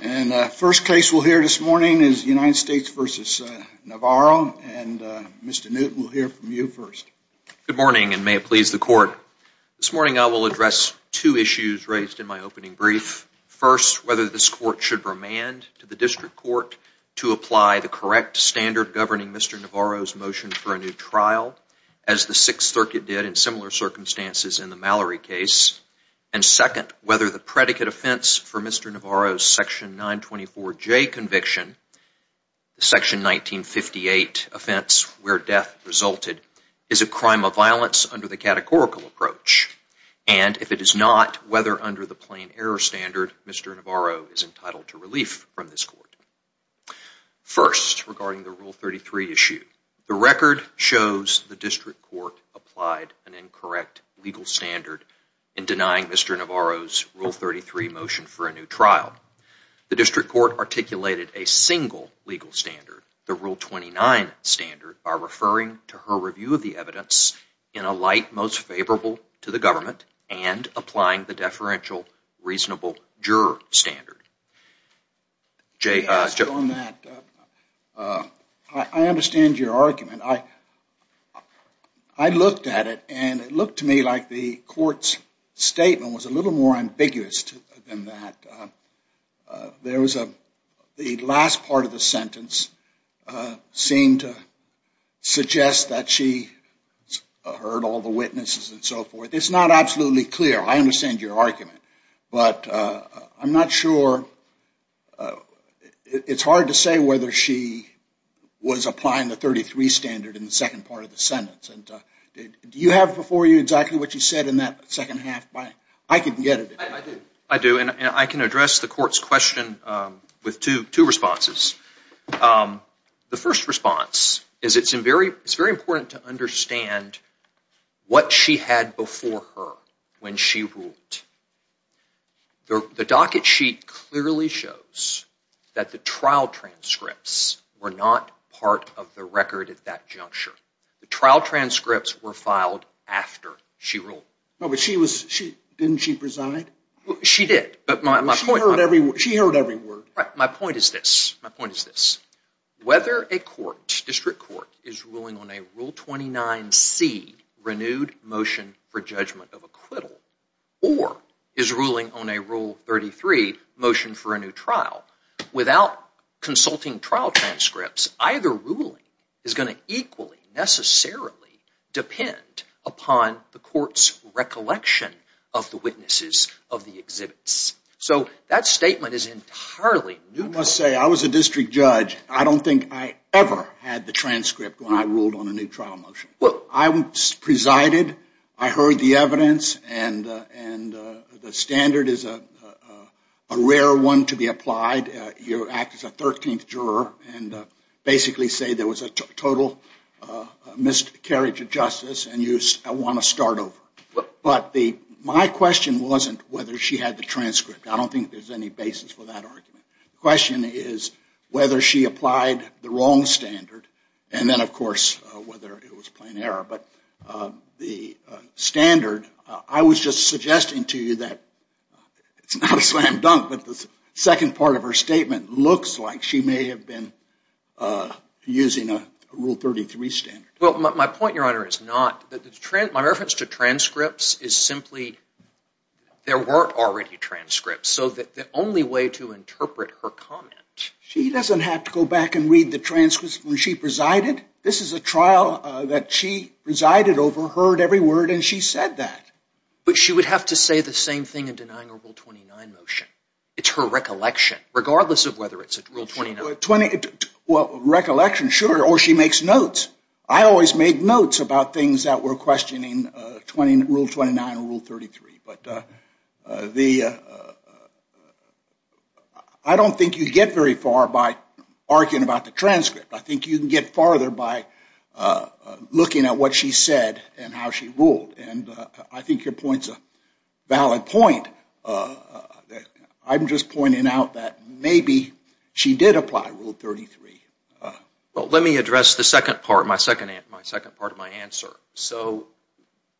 And first case we'll hear this morning is United States v. Navarro, and Mr. Newton will hear from you first. Good morning, and may it please the Court. This morning I will address two issues raised in my opening brief. First, whether this Court should remand to the District Court to apply the correct standard governing Mr. Navarro's motion for a new trial, as the Sixth Circuit did in similar circumstances in the Mallory case. And second, whether the predicate offense for Mr. Navarro's Section 924J conviction, the Section 1958 offense where death resulted, is a crime of violence under the categorical approach. And if it is not, whether under the plain error standard, Mr. Navarro is entitled to relief from this Court. First, regarding the Rule 33 issue, the record shows the District Court applied an incorrect legal standard in denying Mr. Navarro's Rule 33 motion for a new trial. The District Court articulated a single legal standard, the Rule 29 standard, by referring to her review of the evidence in a light most favorable to the government and applying the deferential reasonable juror standard. I understand your argument. I looked at it and it looked to me like the Court's statement was a little more ambiguous than that. The last part of the sentence seemed to suggest that she heard all the witnesses and so forth. It's not absolutely clear. I understand your argument. It's hard to say whether she was applying the Rule 33 standard in the second part of the sentence. Do you have before you exactly what you said in that second half? I can get it. I do. And I can address the Court's question with two responses. The first response is it's very important to understand what she had before her when she ruled. The docket sheet clearly shows that the trial transcripts were not part of the record at that juncture. The trial transcripts were filed after she ruled. But didn't she preside? She did. She heard every word. My point is this. Whether a District Court is ruling on a Rule 29c renewed motion for a new trial without consulting trial transcripts, either ruling is going to equally necessarily depend upon the Court's recollection of the witnesses of the exhibits. So that statement is entirely neutral. You must say I was a District Judge. I don't think I ever had the transcript when I ruled on a new trial motion. I presided. I heard the evidence. And the standard is a rule that is a rare one to be applied. You act as a 13th juror and basically say there was a total miscarriage of justice and you want to start over. But my question wasn't whether she had the transcript. I don't think there's any basis for that argument. The question is whether she applied the wrong standard and then of course whether it was plain error. But the standard, I was just suggesting to you that it's not a slam dunk, but the second part of her statement looks like she may have been using a Rule 33 standard. My point, Your Honor, is not. My reference to transcripts is simply there weren't already transcripts. So the only way to interpret her comment. She doesn't have to go back and read the transcripts when she presided. This is a trial that she presided over, heard every word, and she said that. But she would have to say the same thing in denying a Rule 29 motion. It's her recollection, regardless of whether it's a Rule 29. Well, recollection, sure. Or she makes notes. I always make notes about things that were questioning Rule 29 or Rule 33. But I don't think you get very far. By arguing about the transcript, I think you can get farther by looking at what she said and how she ruled. And I think your point's a valid point. I'm just pointing out that maybe she did apply Rule 33. Let me address the second part, my second part of my answer. So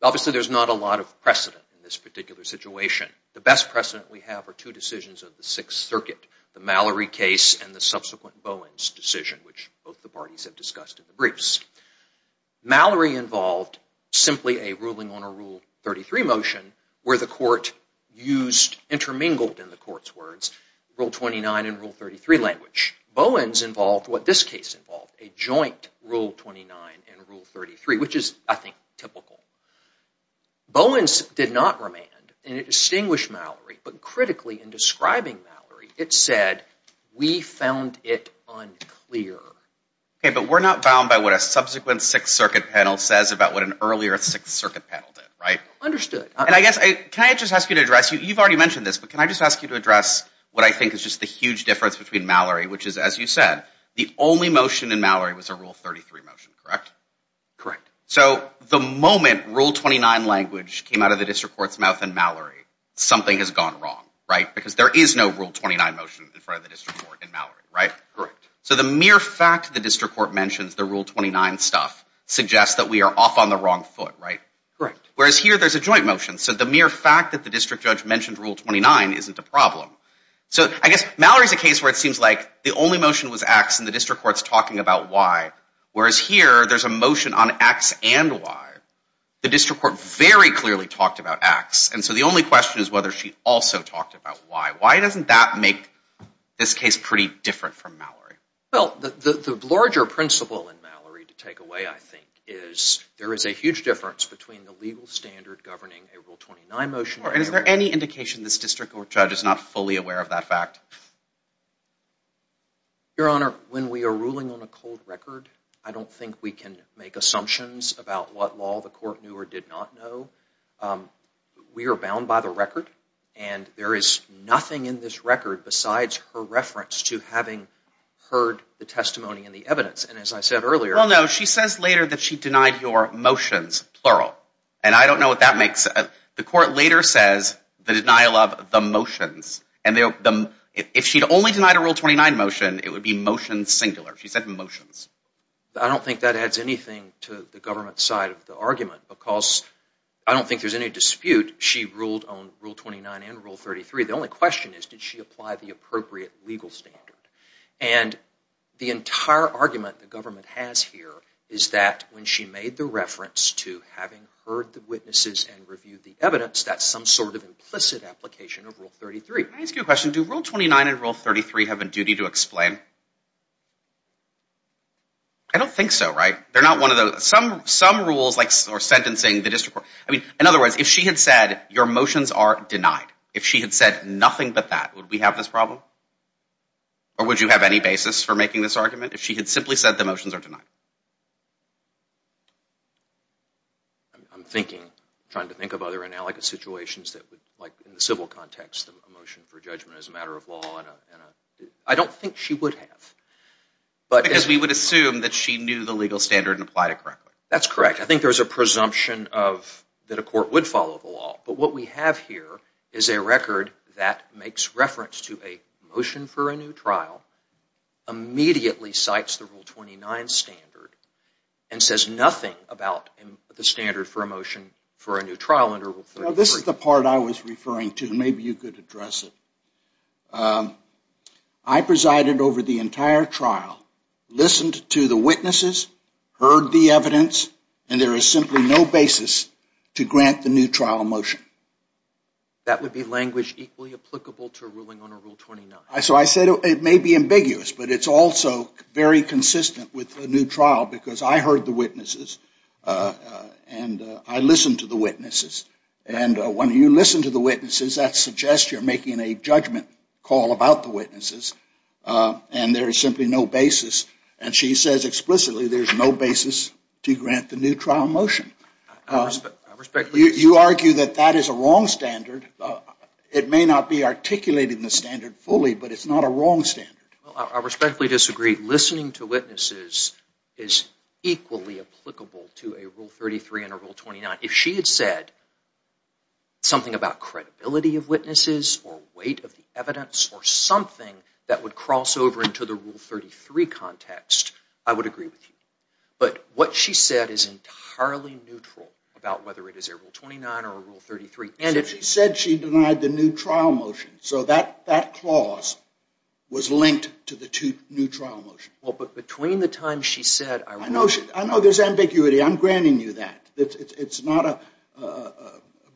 obviously there's not a lot of precedent in this particular situation. The best precedent we have are two decisions of the Sixth Circuit, the Mallory case and the subsequent Bowen's decision, which both the parties have discussed in the briefs. Mallory involved simply a ruling on a Rule 33 motion where the court used, intermingled in the court's words, Rule 29 and Rule 33 language. Bowen's involved what this case involved, a joint Rule 29 and Rule 33, which is, I think, typical. Bowen's did not remand and it distinguished Mallory. But critically, in describing Mallory, it said, we found it unclear. Okay, but we're not bound by what a subsequent Sixth Circuit panel says about what an earlier Sixth Circuit panel did, right? Understood. And I guess, can I just ask you to address, you've already mentioned this, but can I just ask you to address what I think is just the huge difference between Mallory, which is, as you said, the only motion in Mallory was a Rule 33 motion, correct? Correct. So the moment Rule 29 language came out of the district court's mouth in Mallory, something has gone wrong, right? Because there is no Rule 29 motion in front of the district court in Mallory, right? Correct. So the mere fact the district court mentions the Rule 29 stuff suggests that we are off on the wrong foot, right? Correct. Whereas here, there's a joint motion. So the mere fact that the district judge mentioned Rule 29 isn't a problem. So I guess Mallory's a case where it seems like the only motion was X and the district court's talking about Y. Whereas here, there's a motion on X and Y. The district court very clearly talked about X. And so the only question is whether she also talked about Y. Why doesn't that make this case pretty different from Mallory? Well, the larger principle in Mallory to take away, I think, is there is a huge difference between the legal standard governing a Rule 29 motion and a Rule 29 motion. And is there any indication this district court judge is not fully aware of that fact? Your Honor, when we are ruling on a cold record, I don't think we can make assumptions about what law the court knew or did not know. We are bound by the record. And there is nothing in this record besides her reference to having heard the testimony and the evidence. And as I said earlier- Well, no. She says later that she denied your motions, plural. And I don't know what that means. She later says the denial of the motions. If she'd only denied a Rule 29 motion, it would be motions singular. She said motions. I don't think that adds anything to the government side of the argument because I don't think there's any dispute. She ruled on Rule 29 and Rule 33. The only question is did she apply the appropriate legal standard? And the entire argument the government has here is that when she made the reference to having heard the witnesses and reviewed the evidence, that's some sort of implicit application of Rule 33. Can I ask you a question? Do Rule 29 and Rule 33 have a duty to explain? I don't think so, right? They're not one of those- Some rules like sentencing the district court- In other words, if she had said your motions are denied, if she had said nothing but that, would we have this problem? Or would you have any basis for making this argument if she had simply said the motions are denied? I'm thinking, trying to think of other analogous situations that would, like in the civil context, a motion for judgment as a matter of law. I don't think she would have. Because we would assume that she knew the legal standard and applied it correctly. That's correct. I think there's a presumption that a court would follow the law. But what we have here is a record that makes reference to a motion for a new trial, immediately cites the Rule 29 standard, and says nothing about the standard for a motion for a new trial under Rule 33. This is the part I was referring to. Maybe you could address it. I presided over the entire trial, listened to the witnesses, heard the evidence, and there is simply no basis to grant the new trial a motion. That would be language equally applicable to a ruling under Rule 29. So I said it may be ambiguous, but it's also very consistent with a new trial, because I heard the witnesses, and I listened to the witnesses. And when you listen to the witnesses, that suggests you're making a judgment call about the witnesses. And there is simply no basis. And she says explicitly there's no basis to grant the new trial a motion. You argue that that is a wrong standard. It may not be articulated in the standard fully, but it's not a wrong standard. I respectfully disagree. Listening to witnesses is equally applicable to a Rule 33 and a Rule 29. If she had said something about credibility of witnesses or weight of the evidence or something that would cross over into the Rule 33 context, I would agree with you. But what she said is entirely neutral about whether it is a Rule 29 or a Rule 33. And if she said she denied the new trial motion, so that clause was linked to the two new trial motions. Well, but between the time she said, I would agree. I know there's ambiguity. I'm granting you that.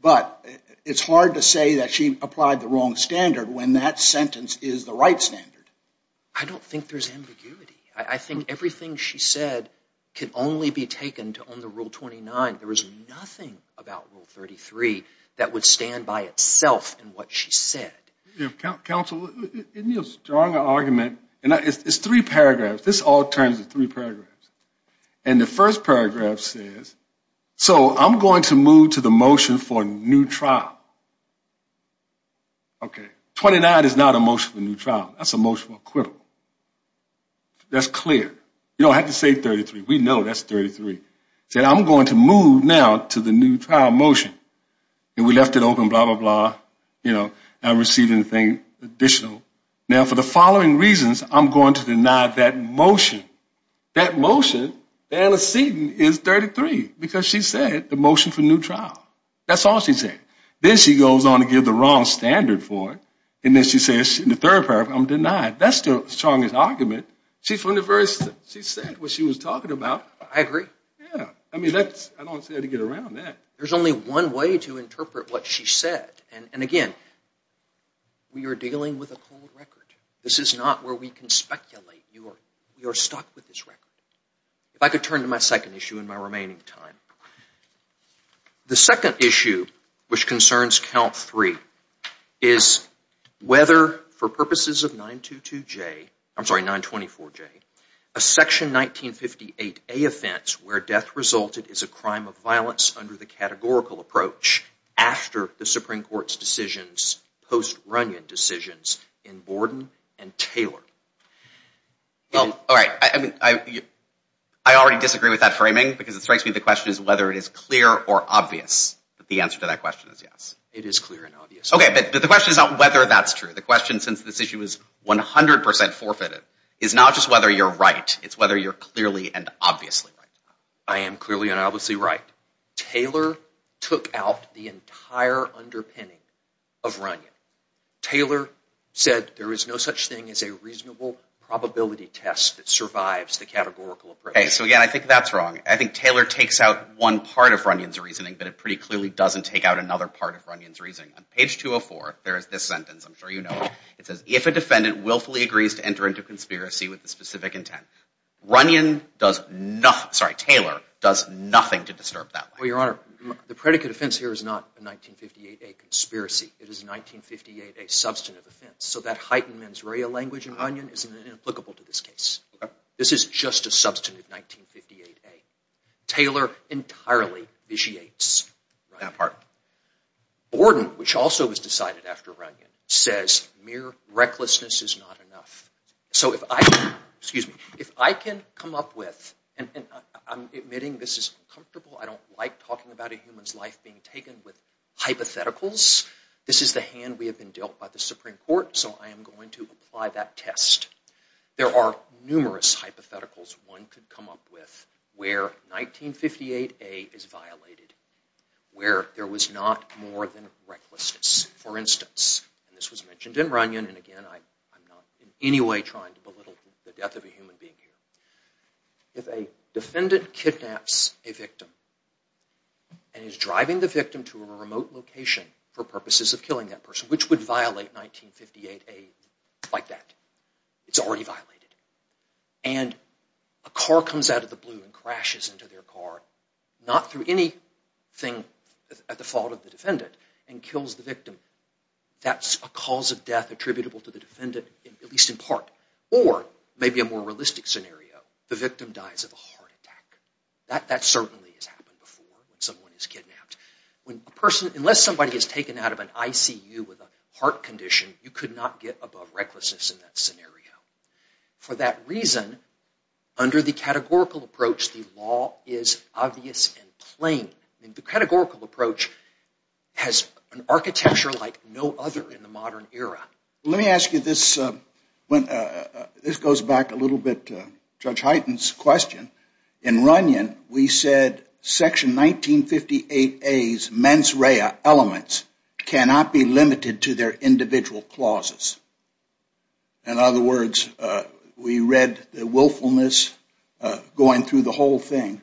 But it's hard to say that she applied the wrong standard when that sentence is the right standard. I don't think there's ambiguity. I think everything she said can only be taken to own the Rule 29. There is nothing about Rule 33 that would stand by itself in what she said. Counsel, in your strong argument, it's three paragraphs. This all turns to three paragraphs. And the first paragraph says, so I'm going to move to the motion for a new trial. Okay. 29 is not a motion for a new trial. That's a motion for acquittal. That's clear. You don't have to say 33. We know that's 33. She said, I'm going to move now to the new trial motion. And we left it open, blah, blah, blah. You know, I don't receive anything additional. Now for the following reasons, I'm going to deny that motion. That motion, the antecedent is 33, because she said the motion for a new trial. That's all she said. Then she goes on to give the wrong standard for it. And then she says in the third paragraph, I'm denied. That's the strongest argument. She said what she was talking about. I agree. Yeah. I mean, I don't see how to get around that. There's only one way to interpret what she said. And again, we are dealing with a cold record. This is not where we can speculate. We are stuck with this record. If I could turn to my second issue in my remaining time. The second issue, which concerns count three, is whether for purposes of 922J, I'm sorry, 924J, a section 1958A offense where death resulted is a crime of violence under the categorical approach after the Supreme Court's decisions, post-Runnion decisions in Borden and Taylor. Well, all right. I mean, I already disagree with that framing because it strikes me the question is whether it is clear or obvious. But the answer to that question is yes. It is clear and obvious. Okay. But the question is not whether that's true. The question, since this issue is 100% forfeited, is not just whether you're right. It's whether you're clearly and obviously right. I am clearly and obviously right. Taylor took out the entire underpinning of Runnion. Taylor said there is no such thing as a reasonable probability test that survives the categorical approach. Okay. So again, I think that's wrong. I think Taylor takes out one part of Runnion's reasoning, but it pretty clearly doesn't take out another part of Runnion's reasoning. On page 204, there is this sentence. I'm sure you know it. It says, if a defendant willfully agrees to enter into conspiracy with a specific intent, Runnion does nothing, sorry, Taylor does nothing to disturb that. Well, Your Honor, the predicate offense here is not a 1958A conspiracy. It is a 1958A substantive offense. So that heightened mens rea language in Runnion is inapplicable to this case. This is just a substantive 1958A. Taylor entirely vitiates that part. Borden, which also was decided after Runnion, says mere recklessness is not enough. So if I can come up with, and I'm admitting this is uncomfortable. I don't like talking about a human's life being taken with hypotheticals. This is the hand we have been dealt by the Supreme Court, so I am going to apply that test. There are numerous hypotheticals one could come up with where 1958A is violated, where there was not more than recklessness. For instance, and this was mentioned in Runnion, and again, I'm not in any way trying to belittle the death of a human being here. If a defendant kidnaps a victim and is driving the victim to a remote location for purposes of killing that person, which would violate 1958A like that. It's already violated. And a car comes out of the blue and crashes into their car, not through anything at the fault of the defendant, and kills the victim. That's a cause of death attributable to the defendant, at least in part. Or, maybe a more realistic scenario, the victim dies of a heart attack. That certainly has happened before when someone is kidnapped. Unless somebody is taken out of an ICU with a heart condition, you could not get above recklessness in that scenario. For that reason, under the categorical approach, the law is obvious and plain. The categorical approach has an architecture like no other in the modern era. Let me ask you this. This goes back a little bit to Judge Hyten's question. In Runnion, we said Section 1958A's mens rea elements cannot be limited to their individual clauses. In other words, we read the willfulness going through the whole thing,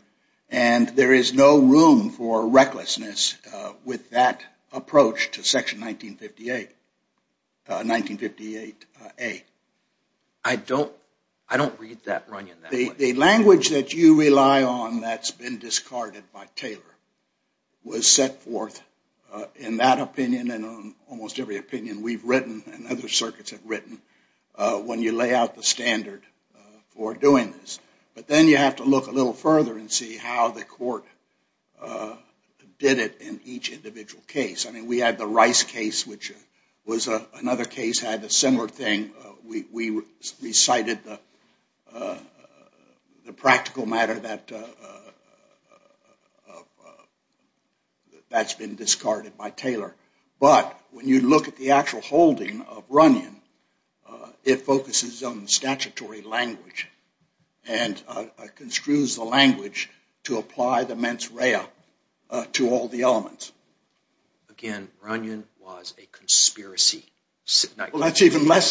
and there is no room for recklessness with that approach to Section 1958A. I don't read that Runnion that way. The language that you rely on that's been discarded by Taylor was set forth in that opinion. We've written, and other circuits have written, when you lay out the standard for doing this. But then you have to look a little further and see how the court did it in each individual case. We had the Rice case, which was another case that had a similar thing. We recited the practical matter that's been discarded by Taylor. But when you look at the actual holding of Runnion, it focuses on statutory language and construes the language to apply the mens rea to all the elements. Again, Runnion was a conspiracy. That's even less.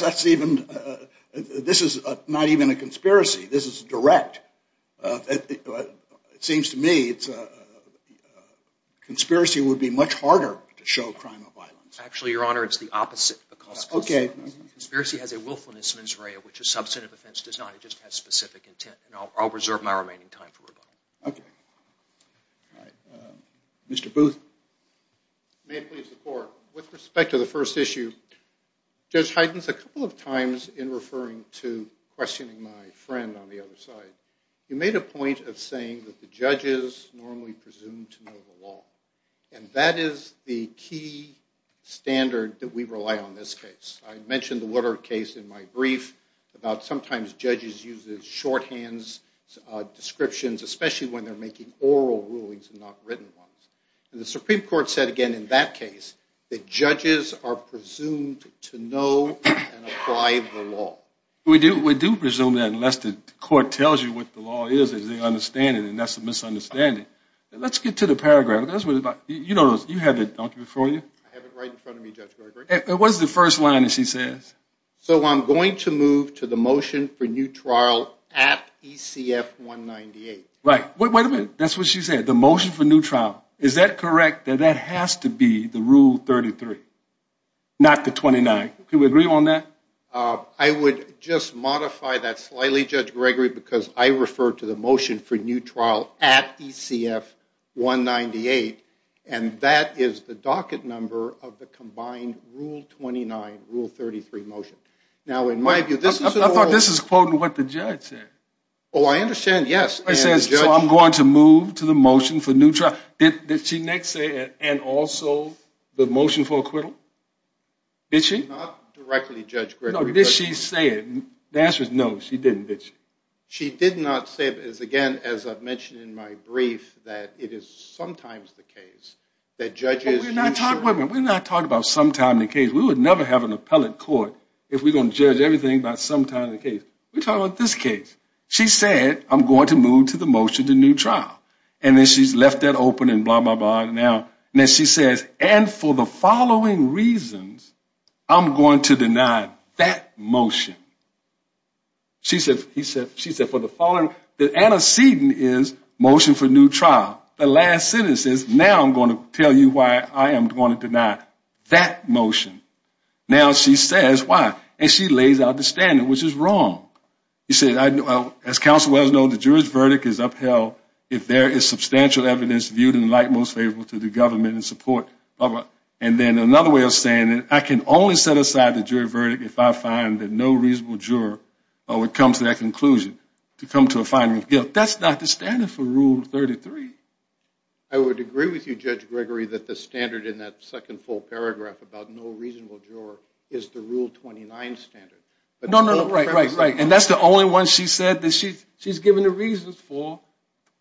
This is not even a conspiracy. This is direct. It seems to me a conspiracy would be much harder to show a crime of violence. Actually, Your Honor, it's the opposite. Conspiracy has a willfulness mens rea, which a substantive offense does not. It just has specific intent. I'll reserve my remaining time for rebuttal. With respect to the first issue, Judge Heidens, a couple of times in referring to questioning my friend on the other side, you made a point of saying that the judges normally presume to know the law. That is the key standard that we rely on in this case. I mentioned the Woodard case in my brief about sometimes judges using shorthand descriptions, especially when they're making oral rulings and not written ones. The Supreme Court said, again, in that case, that judges are presumed to know and apply the law. We do presume that unless the court tells you what the law is, as they understand it. That's a misunderstanding. Let's get to the paragraph. You have it, don't you, before you? I have it right in front of me, Judge Gregory. It was the first line that she says. So I'm going to move to the motion for new trial at ECF 198. Right. Wait a minute. That's what she said, the motion for new trial. Is that correct that that has to be the Rule 33, not the 29? Can we agree on that? I would just modify that slightly, Judge Gregory, because I refer to the motion for new trial at ECF 198. And that is the docket number of the combined Rule 29, Rule 33 motion. I thought this was quoting what the judge said. Oh, I understand, yes. So I'm going to move to the motion for new trial. Did she next say, and also the motion for acquittal? Did she? Not directly, Judge Gregory. No, did she say it? The answer is no, she didn't, did she? She did not say it. Again, as I've mentioned in my brief, that it is sometimes the case that judges... We're not talking about sometimes the case. We would never have an appellate court if we're going to judge everything by sometimes the case. We're talking about this case. She said, I'm going to move to the motion to new trial. And then she's left that open and blah, blah, blah. And then she says, and for the following reasons, I'm going to deny that motion. She said, for the following... The antecedent is motion for new trial. The last sentence is, now I'm going to tell you why I am going to deny that motion. Now she says, why? And she lays out the standard, which is wrong. She says, as counsel well knows, the jury's verdict is upheld if there is substantial evidence viewed in the light most favorable to the government in support of a... And then another way of saying it, I can only set aside the jury verdict if I find that no reasonable juror would come to that conclusion, to come to a finding of guilt. That's not the standard for Rule 33. I would agree with you, Judge Gregory, that the standard in that second full paragraph about no reasonable juror is the Rule 29 standard. No, no, no, right, right, right. And that's the only one she said that she's given the reasons for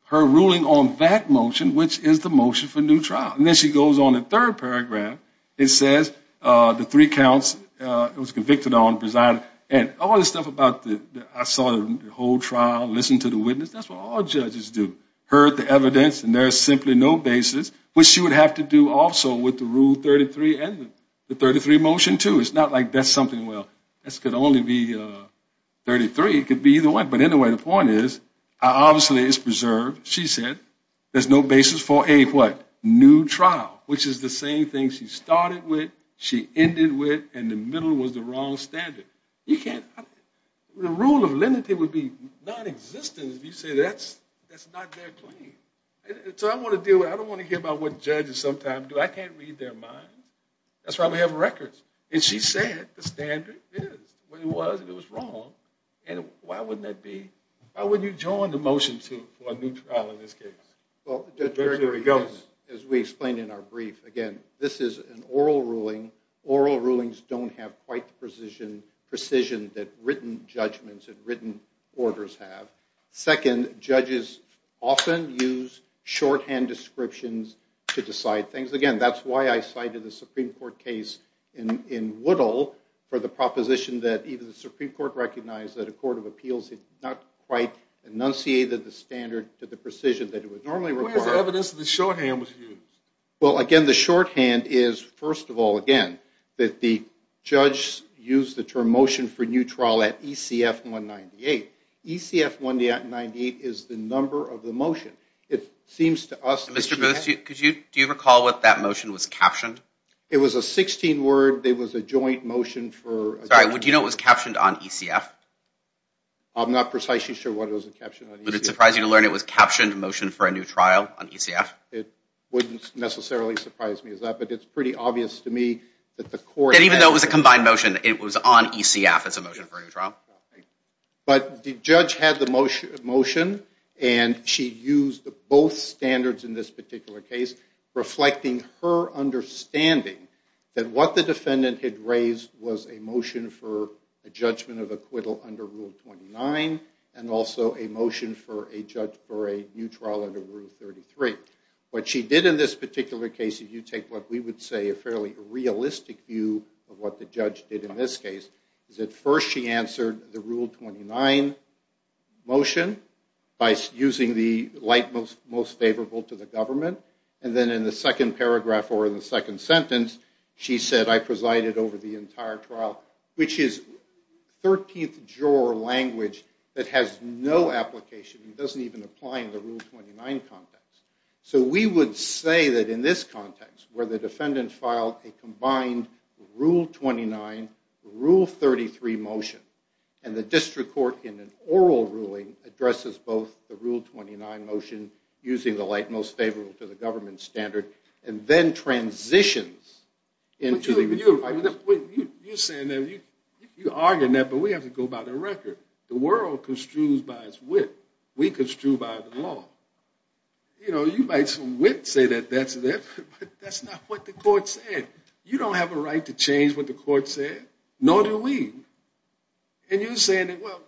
her ruling on that motion, which is the motion for new trial. And then she goes on in the third paragraph and says the three counts it was convicted on, presided, and all this stuff about I saw the whole trial, listened to the witness, that's what all judges do, heard the evidence and there is simply no basis, which she would have to do also with the Rule 33 and the 33 motion too. It's not like that's something, well, this could only be 33. It could be either one. But anyway, the point is, obviously it's preserved. She said there's no basis for a what? New trial, which is the same thing she started with, she ended with, and the middle was the wrong standard. You can't, the rule of lenity would be nonexistent if you say that's not their claim. So I don't want to hear about what judges sometimes do. I can't read their minds. That's why we have records. And she said the standard is what it was and it was wrong. And why wouldn't that be? Why wouldn't you join the motion for a new trial in this case? As we explained in our brief, again, this is an oral ruling. Oral rulings don't have quite the precision that written judgments and written orders have. Second, judges often use shorthand descriptions to decide things. Again, that's why I cited the Supreme Court case in Woodall for the proposition that even the Supreme Court recognized that a court of appeals had not quite enunciated the standard to the precision that it would normally require. Where is the evidence that the shorthand was used? Well, again, the shorthand is, first of all, again, that the judge used the term motion for new trial at ECF 198. ECF 198 is the number of the motion. Mr. Booth, do you recall what that motion was captioned? It was a 16-word. It was a joint motion. Would you know it was captioned on ECF? I'm not precisely sure what it was captioned on ECF. Would it surprise you to learn it was a captioned motion for a new trial on ECF? It wouldn't necessarily surprise me as that, but it's pretty obvious to me that the court— And even though it was a combined motion, it was on ECF as a motion for a new trial. But the judge had the motion, and she used both standards in this particular case, reflecting her understanding that what the defendant had raised was a motion for a judgment of acquittal under Rule 29 and also a motion for a judge for a new trial under Rule 33. What she did in this particular case, if you take what we would say a fairly realistic view of what the judge did in this case, is at first she answered the Rule 29 motion by using the light most favorable to the government. And then in the second paragraph or in the second sentence, she said, I presided over the entire trial, which is 13th juror language that has no application. It doesn't even apply in the Rule 29 context. So we would say that in this context, where the defendant filed a combined Rule 29, Rule 33 motion, and the district court in an oral ruling addresses both the Rule 29 motion, using the light most favorable to the government standard, and then transitions into— You're arguing that, but we have to go by the record. The world construes by its wit. We construe by the law. You know, you might say that that's it, but that's not what the court said. You don't have a right to change what the court said, nor do we. And you're saying that, well,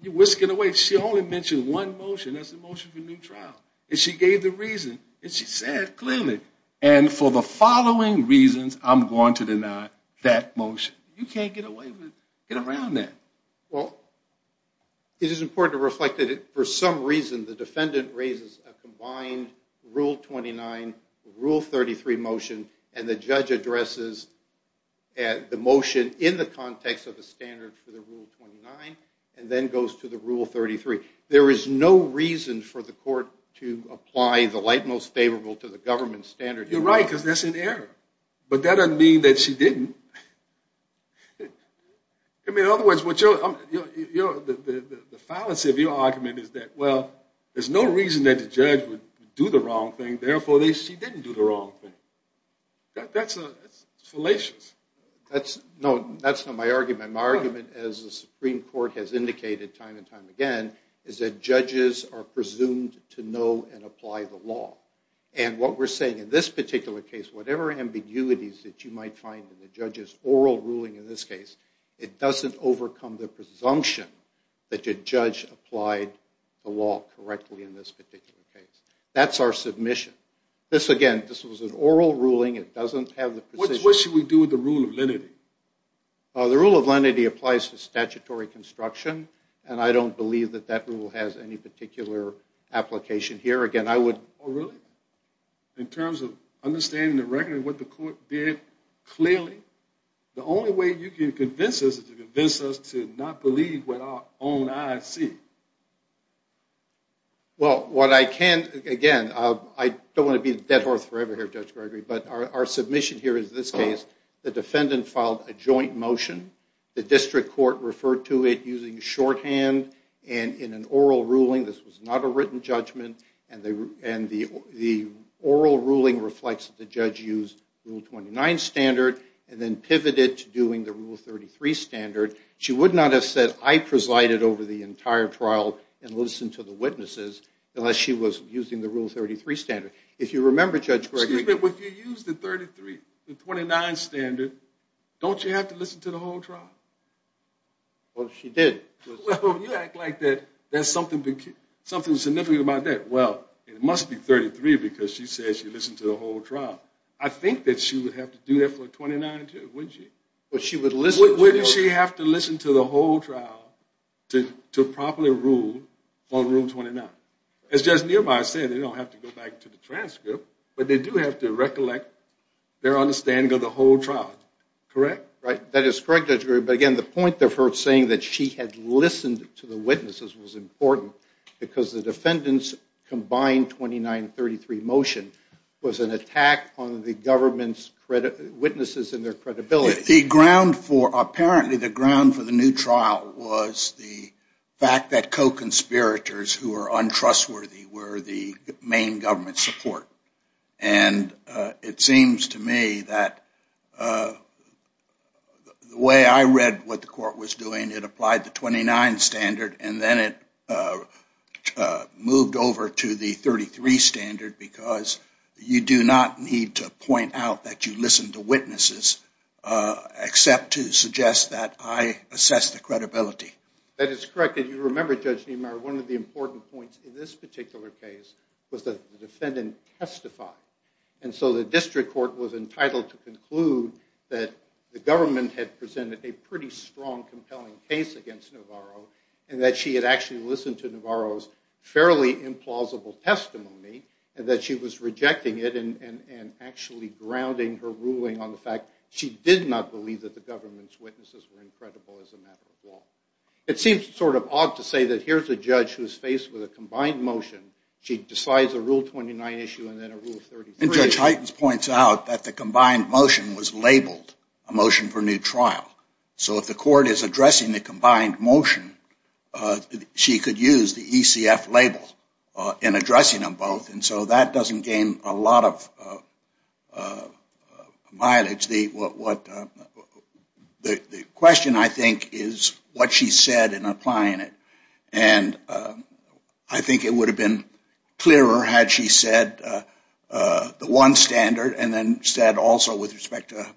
you're whisking away. She only mentioned one motion. That's the motion for a new trial. And she gave the reason, and she said clearly, and for the following reasons, I'm going to deny that motion. You can't get away with it. Get around that. Well, it is important to reflect that, for some reason, the defendant raises a combined Rule 29, Rule 33 motion, and the judge addresses the motion in the context of the standard for the Rule 29, and then goes to the Rule 33. There is no reason for the court to apply the light most favorable to the government standard. You're right, because that's an error. But that doesn't mean that she didn't. I mean, in other words, the fallacy of your argument is that, well, there's no reason that the judge would do the wrong thing, therefore she didn't do the wrong thing. That's fallacious. No, that's not my argument. My argument, as the Supreme Court has indicated time and time again, is that judges are presumed to know and apply the law. And what we're saying in this particular case, whatever ambiguities that you might find in the judge's oral ruling in this case, it doesn't overcome the presumption that your judge applied the law correctly in this particular case. That's our submission. This, again, this was an oral ruling. It doesn't have the precision. What should we do with the rule of lenity? The rule of lenity applies to statutory construction, and I don't believe that that rule has any particular application here. Again, I would... Oh, really? In terms of understanding the record and what the court did clearly, the only way you can convince us is to convince us to not believe what our own eyes see. Well, what I can... Again, I don't want to be the dead horse forever here, Judge Gregory, but our submission here is this case. The defendant filed a joint motion. The district court referred to it using shorthand and in an oral ruling. This was not a written judgment. The oral ruling reflects that the judge used Rule 29 standard and then pivoted to doing the Rule 33 standard. She would not have said, I presided over the entire trial and listened to the witnesses unless she was using the Rule 33 standard. If you remember, Judge Gregory... Excuse me, but if you used the 33, the 29 standard, don't you have to listen to the whole trial? Well, she did. Well, if you act like that, there's something significant about that. Well, it must be 33 because she said she listened to the whole trial. I think that she would have to do that for 29 too, wouldn't she? But she would listen... Wouldn't she have to listen to the whole trial to properly rule on Rule 29? As Judge Niemeyer said, they don't have to go back to the transcript, but they do have to recollect their understanding of the whole trial. Correct? Right. That is correct, Judge Gregory. But, again, the point of her saying that she had listened to the witnesses was important because the defendant's combined 2933 motion was an attack on the government's witnesses and their credibility. The ground for... Apparently, the ground for the new trial was the fact that co-conspirators who were untrustworthy were the main government support. And it seems to me that the way I read what the court was doing, it applied the 29 standard and then it moved over to the 33 standard because you do not need to point out that you listened to witnesses except to suggest that I assess the credibility. That is correct. If you remember, Judge Niemeyer, one of the important points in this particular case was that the defendant testified. And so the District Court was entitled to conclude that the government had presented a pretty strong, compelling case against Navarro and that she had actually listened to Navarro's fairly implausible testimony and that she was rejecting it and actually grounding her ruling on the fact she did not believe that the government's witnesses were incredible as a matter of law. It seems sort of odd to say that here's a judge who's faced with a combined motion. She decides a Rule 29 issue and then a Rule 33. And Judge Heitens points out that the combined motion was labeled a motion for new trial. So if the court is addressing the combined motion, she could use the ECF label in addressing them both. And so that doesn't gain a lot of mileage. The question, I think, is what she said in applying it. And I think it would have been clearer had she said the one standard and then said also with respect to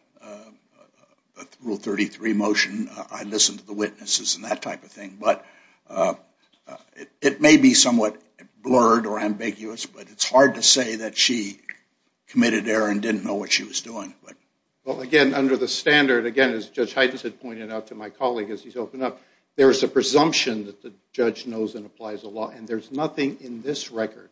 Rule 33 motion, I listened to the witnesses and that type of thing. But it may be somewhat blurred or ambiguous, but it's hard to say that she committed error and didn't know what she was doing. Well, again, under the standard, again, as Judge Heitens had pointed out to my colleague as he's opened up, there's a presumption that the judge knows and applies the law. And there's nothing in this record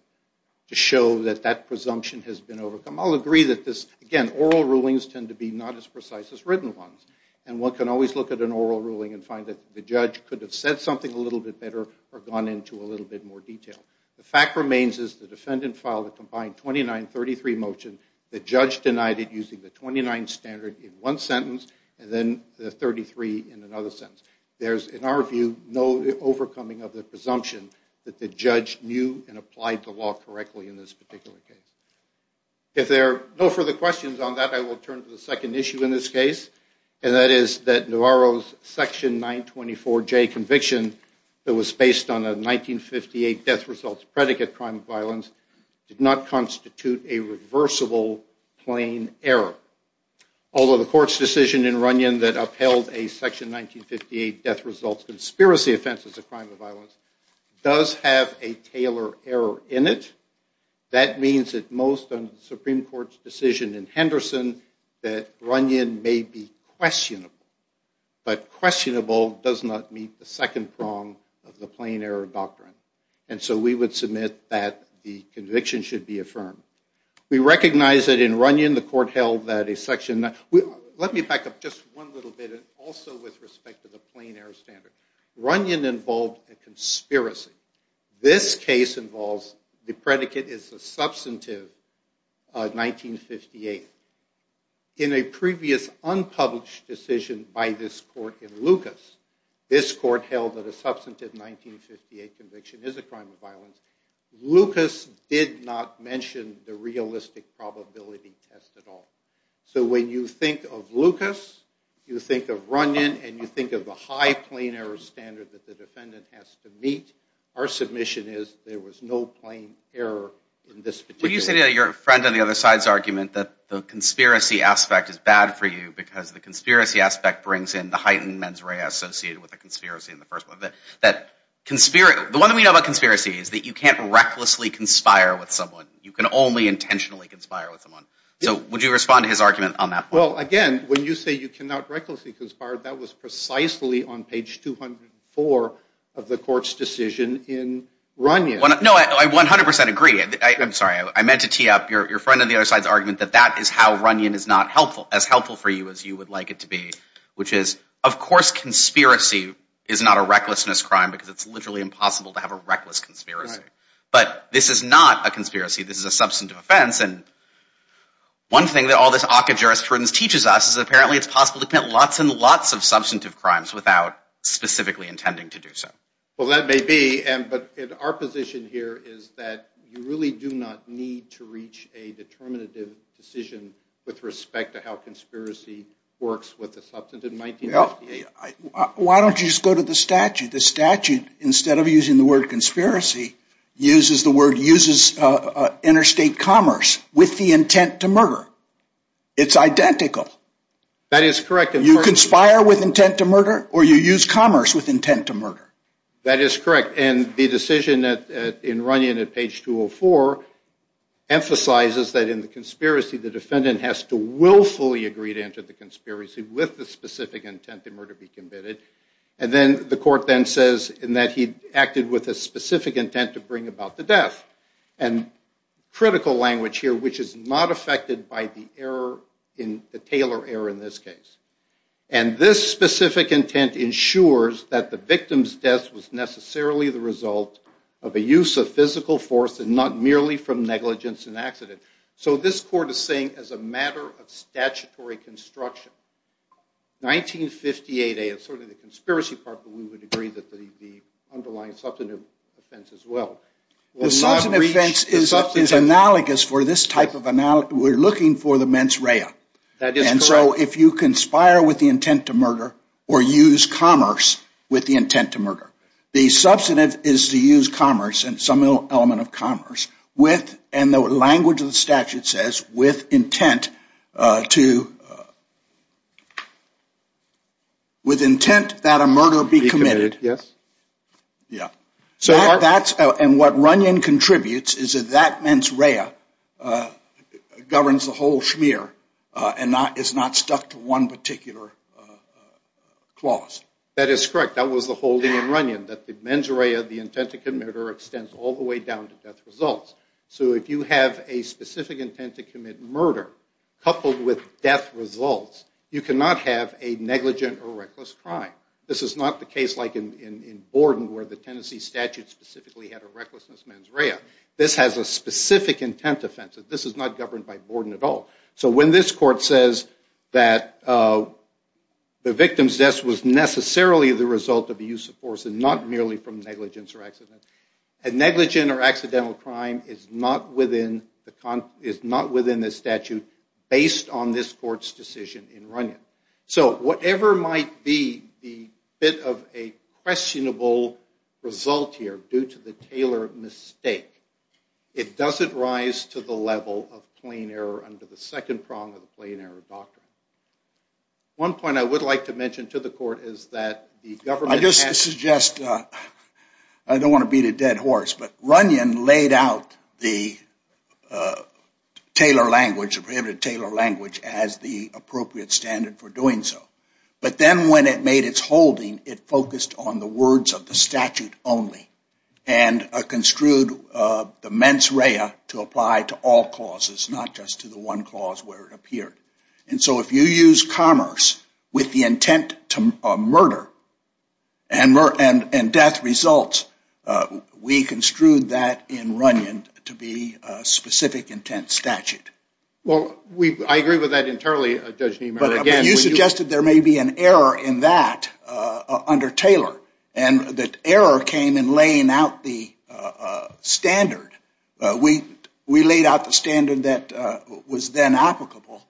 to show that that presumption has been overcome. I'll agree that this, again, oral rulings tend to be not as precise as written ones. And one can always look at an oral ruling and find that the judge could have said something a little bit better or gone into a little bit more detail. The fact remains is the defendant filed a combined 2933 motion. The judge denied it using the 29 standard in one sentence and then the 33 in another sentence. There's, in our view, no overcoming of the presumption that the judge knew and applied the law correctly in this particular case. If there are no further questions on that, I will turn to the second issue in this case, and that is that Navarro's Section 924J conviction that was based on a 1958 death results predicate crime of violence did not constitute a reversible plain error. Although the court's decision in Runyon that upheld a Section 1958 death results conspiracy offense as a crime of violence does have a Taylor error in it, that means that most of the Supreme Court's decision in Henderson that Runyon may be questionable. But questionable does not meet the second prong of the plain error doctrine. And so we would submit that the conviction should be affirmed. We recognize that in Runyon the court held that a Section 9- Let me back up just one little bit also with respect to the plain error standard. Runyon involved a conspiracy. This case involves the predicate is a substantive 1958. In a previous unpublished decision by this court in Lucas, this court held that a substantive 1958 conviction is a crime of violence. Lucas did not mention the realistic probability test at all. So when you think of Lucas, you think of Runyon, and you think of the high plain error standard that the defendant has to meet, our submission is there was no plain error in this particular case. Well, you said in your friend on the other side's argument that the conspiracy aspect is bad for you because the conspiracy aspect brings in the heightened mens rea associated with the conspiracy in the first one. The one thing we know about conspiracy is that you can't recklessly conspire with someone. You can only intentionally conspire with someone. So would you respond to his argument on that point? Well, again, when you say you cannot recklessly conspire, that was precisely on page 204 of the court's decision in Runyon. No, I 100 percent agree. I'm sorry. I meant to tee up your friend on the other side's argument that that is how Runyon is not helpful, for you as you would like it to be, which is, of course, conspiracy is not a recklessness crime because it's literally impossible to have a reckless conspiracy. But this is not a conspiracy. This is a substantive offense. And one thing that all this ACCA jurisprudence teaches us is apparently it's possible to commit lots and lots of substantive crimes without specifically intending to do so. Well, that may be. But our position here is that you really do not need to reach a determinative decision with respect to how conspiracy works with the substantive. Why don't you just go to the statute? The statute, instead of using the word conspiracy, uses the word interstate commerce with the intent to murder. It's identical. That is correct. You conspire with intent to murder or you use commerce with intent to murder. That is correct. And the decision in Runyon at page 204 emphasizes that in the conspiracy, the defendant has to willfully agree to enter the conspiracy with the specific intent to murder be committed. And then the court then says that he acted with a specific intent to bring about the death. And critical language here, which is not affected by the Taylor error in this case. And this specific intent ensures that the victim's death was necessarily the result of a use of physical force and not merely from negligence and accident. So this court is saying as a matter of statutory construction, 1958A is sort of the conspiracy part, but we would agree that the underlying substantive offense as well. The substantive offense is analogous for this type of analogy. We're looking for the mens rea. That is correct. So if you conspire with the intent to murder or use commerce with the intent to murder, the substantive is to use commerce and some element of commerce with, and the language of the statute says with intent to, with intent that a murder be committed. Yes. Yeah. So that's, and what Runyon contributes is that that mens rea governs the whole schmear and is not stuck to one particular clause. That is correct. That was the whole thing in Runyon, that the mens rea, the intent to commit a murder, extends all the way down to death results. So if you have a specific intent to commit murder coupled with death results, you cannot have a negligent or reckless crime. This is not the case like in Borden where the Tennessee statute specifically had a recklessness mens rea. This has a specific intent offense. This is not governed by Borden at all. So when this court says that the victim's death was necessarily the result of the use of force and not merely from negligence or accident, a negligent or accidental crime is not within the statute based on this court's decision in Runyon. So whatever might be the bit of a questionable result here due to the Taylor mistake, it doesn't rise to the level of plain error under the second prong of the plain error doctrine. One point I would like to mention to the court is that the government has- I just suggest, I don't want to beat a dead horse, but Runyon laid out the Taylor language, the prohibited Taylor language, as the appropriate standard for doing so. But then when it made its holding, it focused on the words of the statute only and construed the mens rea to apply to all causes, not just to the one cause where it appeared. And so if you use commerce with the intent to murder and death results, we construed that in Runyon to be a specific intent statute. Well, I agree with that internally, Judge Niemeyer. But you suggested there may be an error in that under Taylor, and that error came in laying out the standard. We laid out the standard that was then applicable,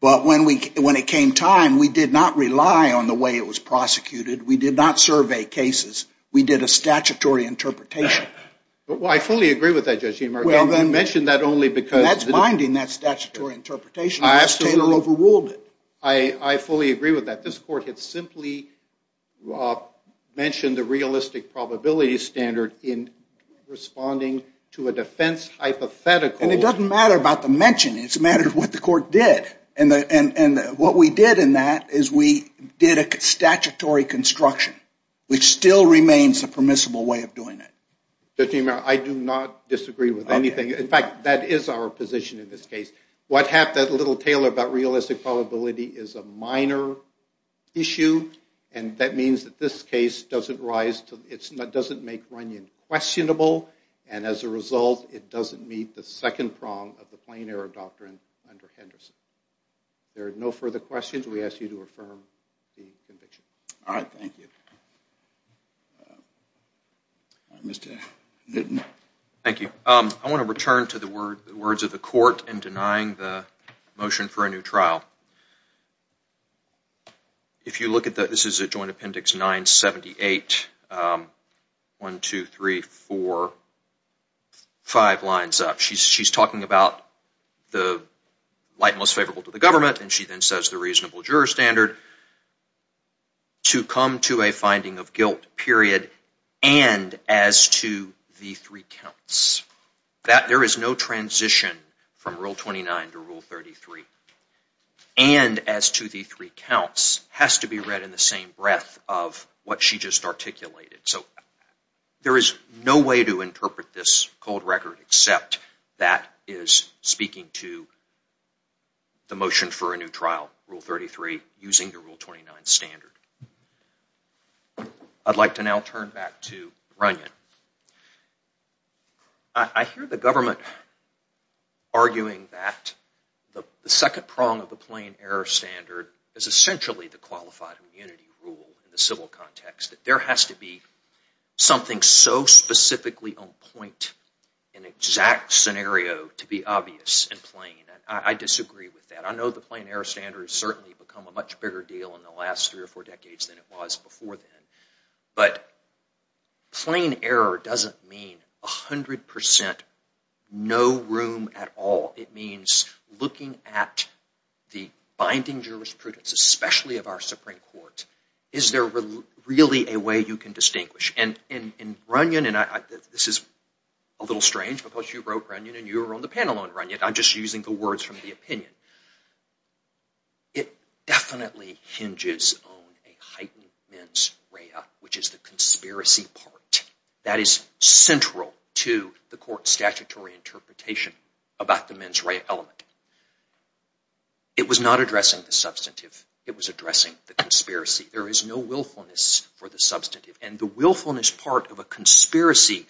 but when it came time, we did not rely on the way it was prosecuted. We did not survey cases. We did a statutory interpretation. Well, I fully agree with that, Judge Niemeyer. You mentioned that only because- That's binding, that statutory interpretation, because Taylor overruled it. I fully agree with that. This court had simply mentioned the realistic probability standard in responding to a defense hypothetical. And it doesn't matter about the mention. It's a matter of what the court did. And what we did in that is we did a statutory construction, which still remains a permissible way of doing it. Judge Niemeyer, I do not disagree with anything. In fact, that is our position in this case. What happened to little Taylor about realistic probability is a minor issue, and that means that this case doesn't rise to- it doesn't make Runyon questionable, and as a result, it doesn't meet the second prong of the plain error doctrine under Henderson. There are no further questions. We ask you to affirm the conviction. All right, thank you. Mr. Hinton. Thank you. I want to return to the words of the court in denying the motion for a new trial. If you look at the-this is a joint appendix 978-1, 2, 3, 4, 5 lines up. She's talking about the light and most favorable to the government, and she then says the reasonable juror standard to come to a finding of guilt period, and as to the three counts. There is no transition from Rule 29 to Rule 33, and as to the three counts has to be read in the same breath of what she just articulated. So there is no way to interpret this cold record except that is speaking to the motion for a new trial, Rule 33, using the Rule 29 standard. I'd like to now turn back to Runyon. I hear the government arguing that the second prong of the plain error standard is essentially the qualified immunity rule in the civil context, that there has to be something so specifically on point, an exact scenario to be obvious and plain, and I disagree with that. I know the plain error standard has certainly become a much bigger deal in the last three or four decades than it was before then, but plain error doesn't mean 100% no room at all. It means looking at the binding jurisprudence, especially of our Supreme Court. Is there really a way you can distinguish? And in Runyon, and this is a little strange because you wrote Runyon, and you were on the panel on Runyon. I'm just using the words from the opinion. It definitely hinges on a heightened mens rea, which is the conspiracy part. That is central to the court's statutory interpretation about the mens rea element. It was not addressing the substantive. It was addressing the conspiracy. There is no willfulness for the substantive, and the willfulness part of a conspiracy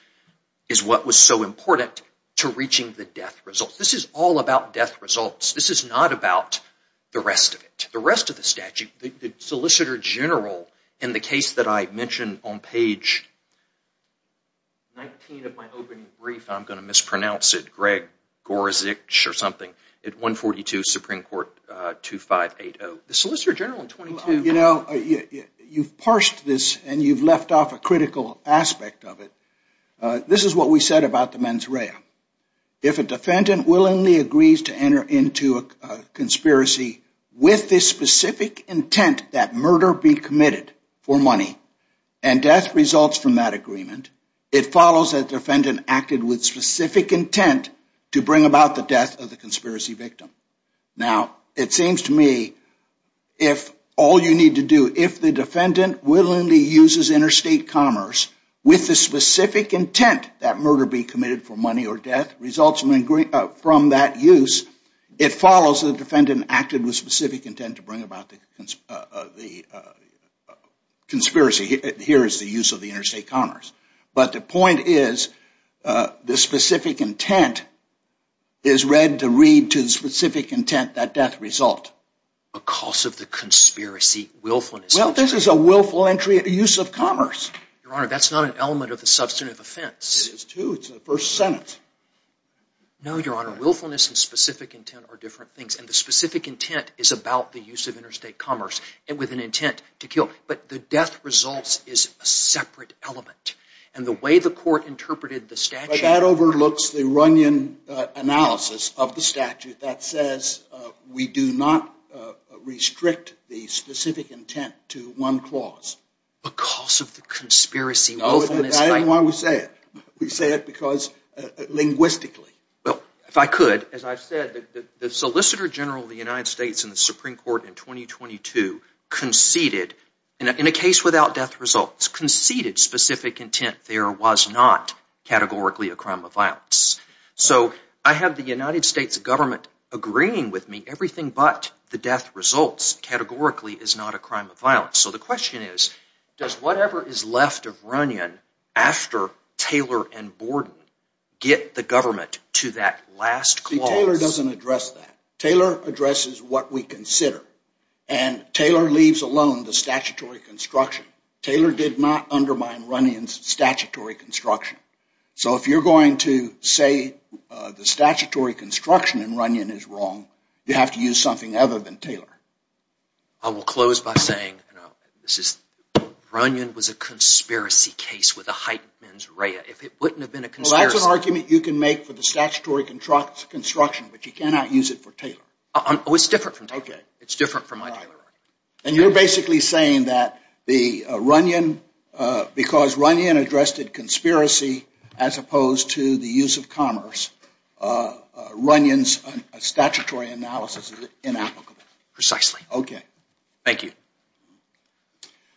is what was so important to reaching the death result. This is all about death results. This is not about the rest of it. The rest of the statute, the Solicitor General in the case that I mentioned on page 19 of my opening brief, I'm going to mispronounce it, Greg Gorizich or something, at 142 Supreme Court 2580. You know, you've parsed this, and you've left off a critical aspect of it. This is what we said about the mens rea. If a defendant willingly agrees to enter into a conspiracy with the specific intent that murder be committed for money and death results from that agreement, it follows that the defendant acted with specific intent to bring about the death of the conspiracy victim. Now, it seems to me if all you need to do, if the defendant willingly uses interstate commerce with the specific intent that murder be committed for money or death results from that use, it follows that the defendant acted with specific intent to bring about the conspiracy. Here is the use of the interstate commerce. But the point is the specific intent is read to read to the specific intent that death result. Because of the conspiracy willfulness. Well, this is a willful use of commerce. Your Honor, that's not an element of the substantive offense. It is, too. It's in the first sentence. No, Your Honor, willfulness and specific intent are different things. And the specific intent is about the use of interstate commerce with an intent to kill. But the death results is a separate element. And the way the court interpreted the statute. But that overlooks the Runyon analysis of the statute that says we do not restrict the specific intent to one clause. Because of the conspiracy willfulness. I don't know why we say it. We say it because linguistically. Well, if I could, as I've said, the Solicitor General of the United States in the Supreme Court in 2022 conceded, in a case without death results, conceded specific intent. There was not categorically a crime of violence. So I have the United States government agreeing with me. Everything but the death results categorically is not a crime of violence. So the question is, does whatever is left of Runyon after Taylor and Borden get the government to that last clause? See, Taylor doesn't address that. Taylor addresses what we consider. And Taylor leaves alone the statutory construction. Taylor did not undermine Runyon's statutory construction. So if you're going to say the statutory construction in Runyon is wrong, you have to use something other than Taylor. I will close by saying Runyon was a conspiracy case with a heightened mens rea. If it wouldn't have been a conspiracy… Well, that's an argument you can make for the statutory construction, but you cannot use it for Taylor. Oh, it's different from Taylor. Okay. It's different from my Taylor argument. And you're basically saying that because Runyon addressed a conspiracy as opposed to the use of commerce, Runyon's statutory analysis is inapplicable. Precisely. Okay. Thank you.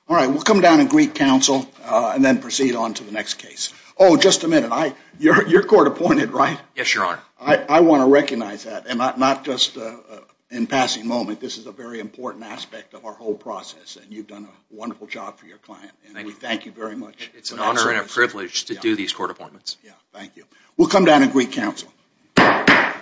All right. We'll come down and greet counsel and then proceed on to the next case. Oh, just a minute. You're court appointed, right? Yes, Your Honor. I want to recognize that. And not just in passing moment. This is a very important aspect of our whole process. And you've done a wonderful job for your client. And we thank you very much. It's an honor and a privilege to do these court appointments. Yeah, thank you. We'll come down and greet counsel. Thank you.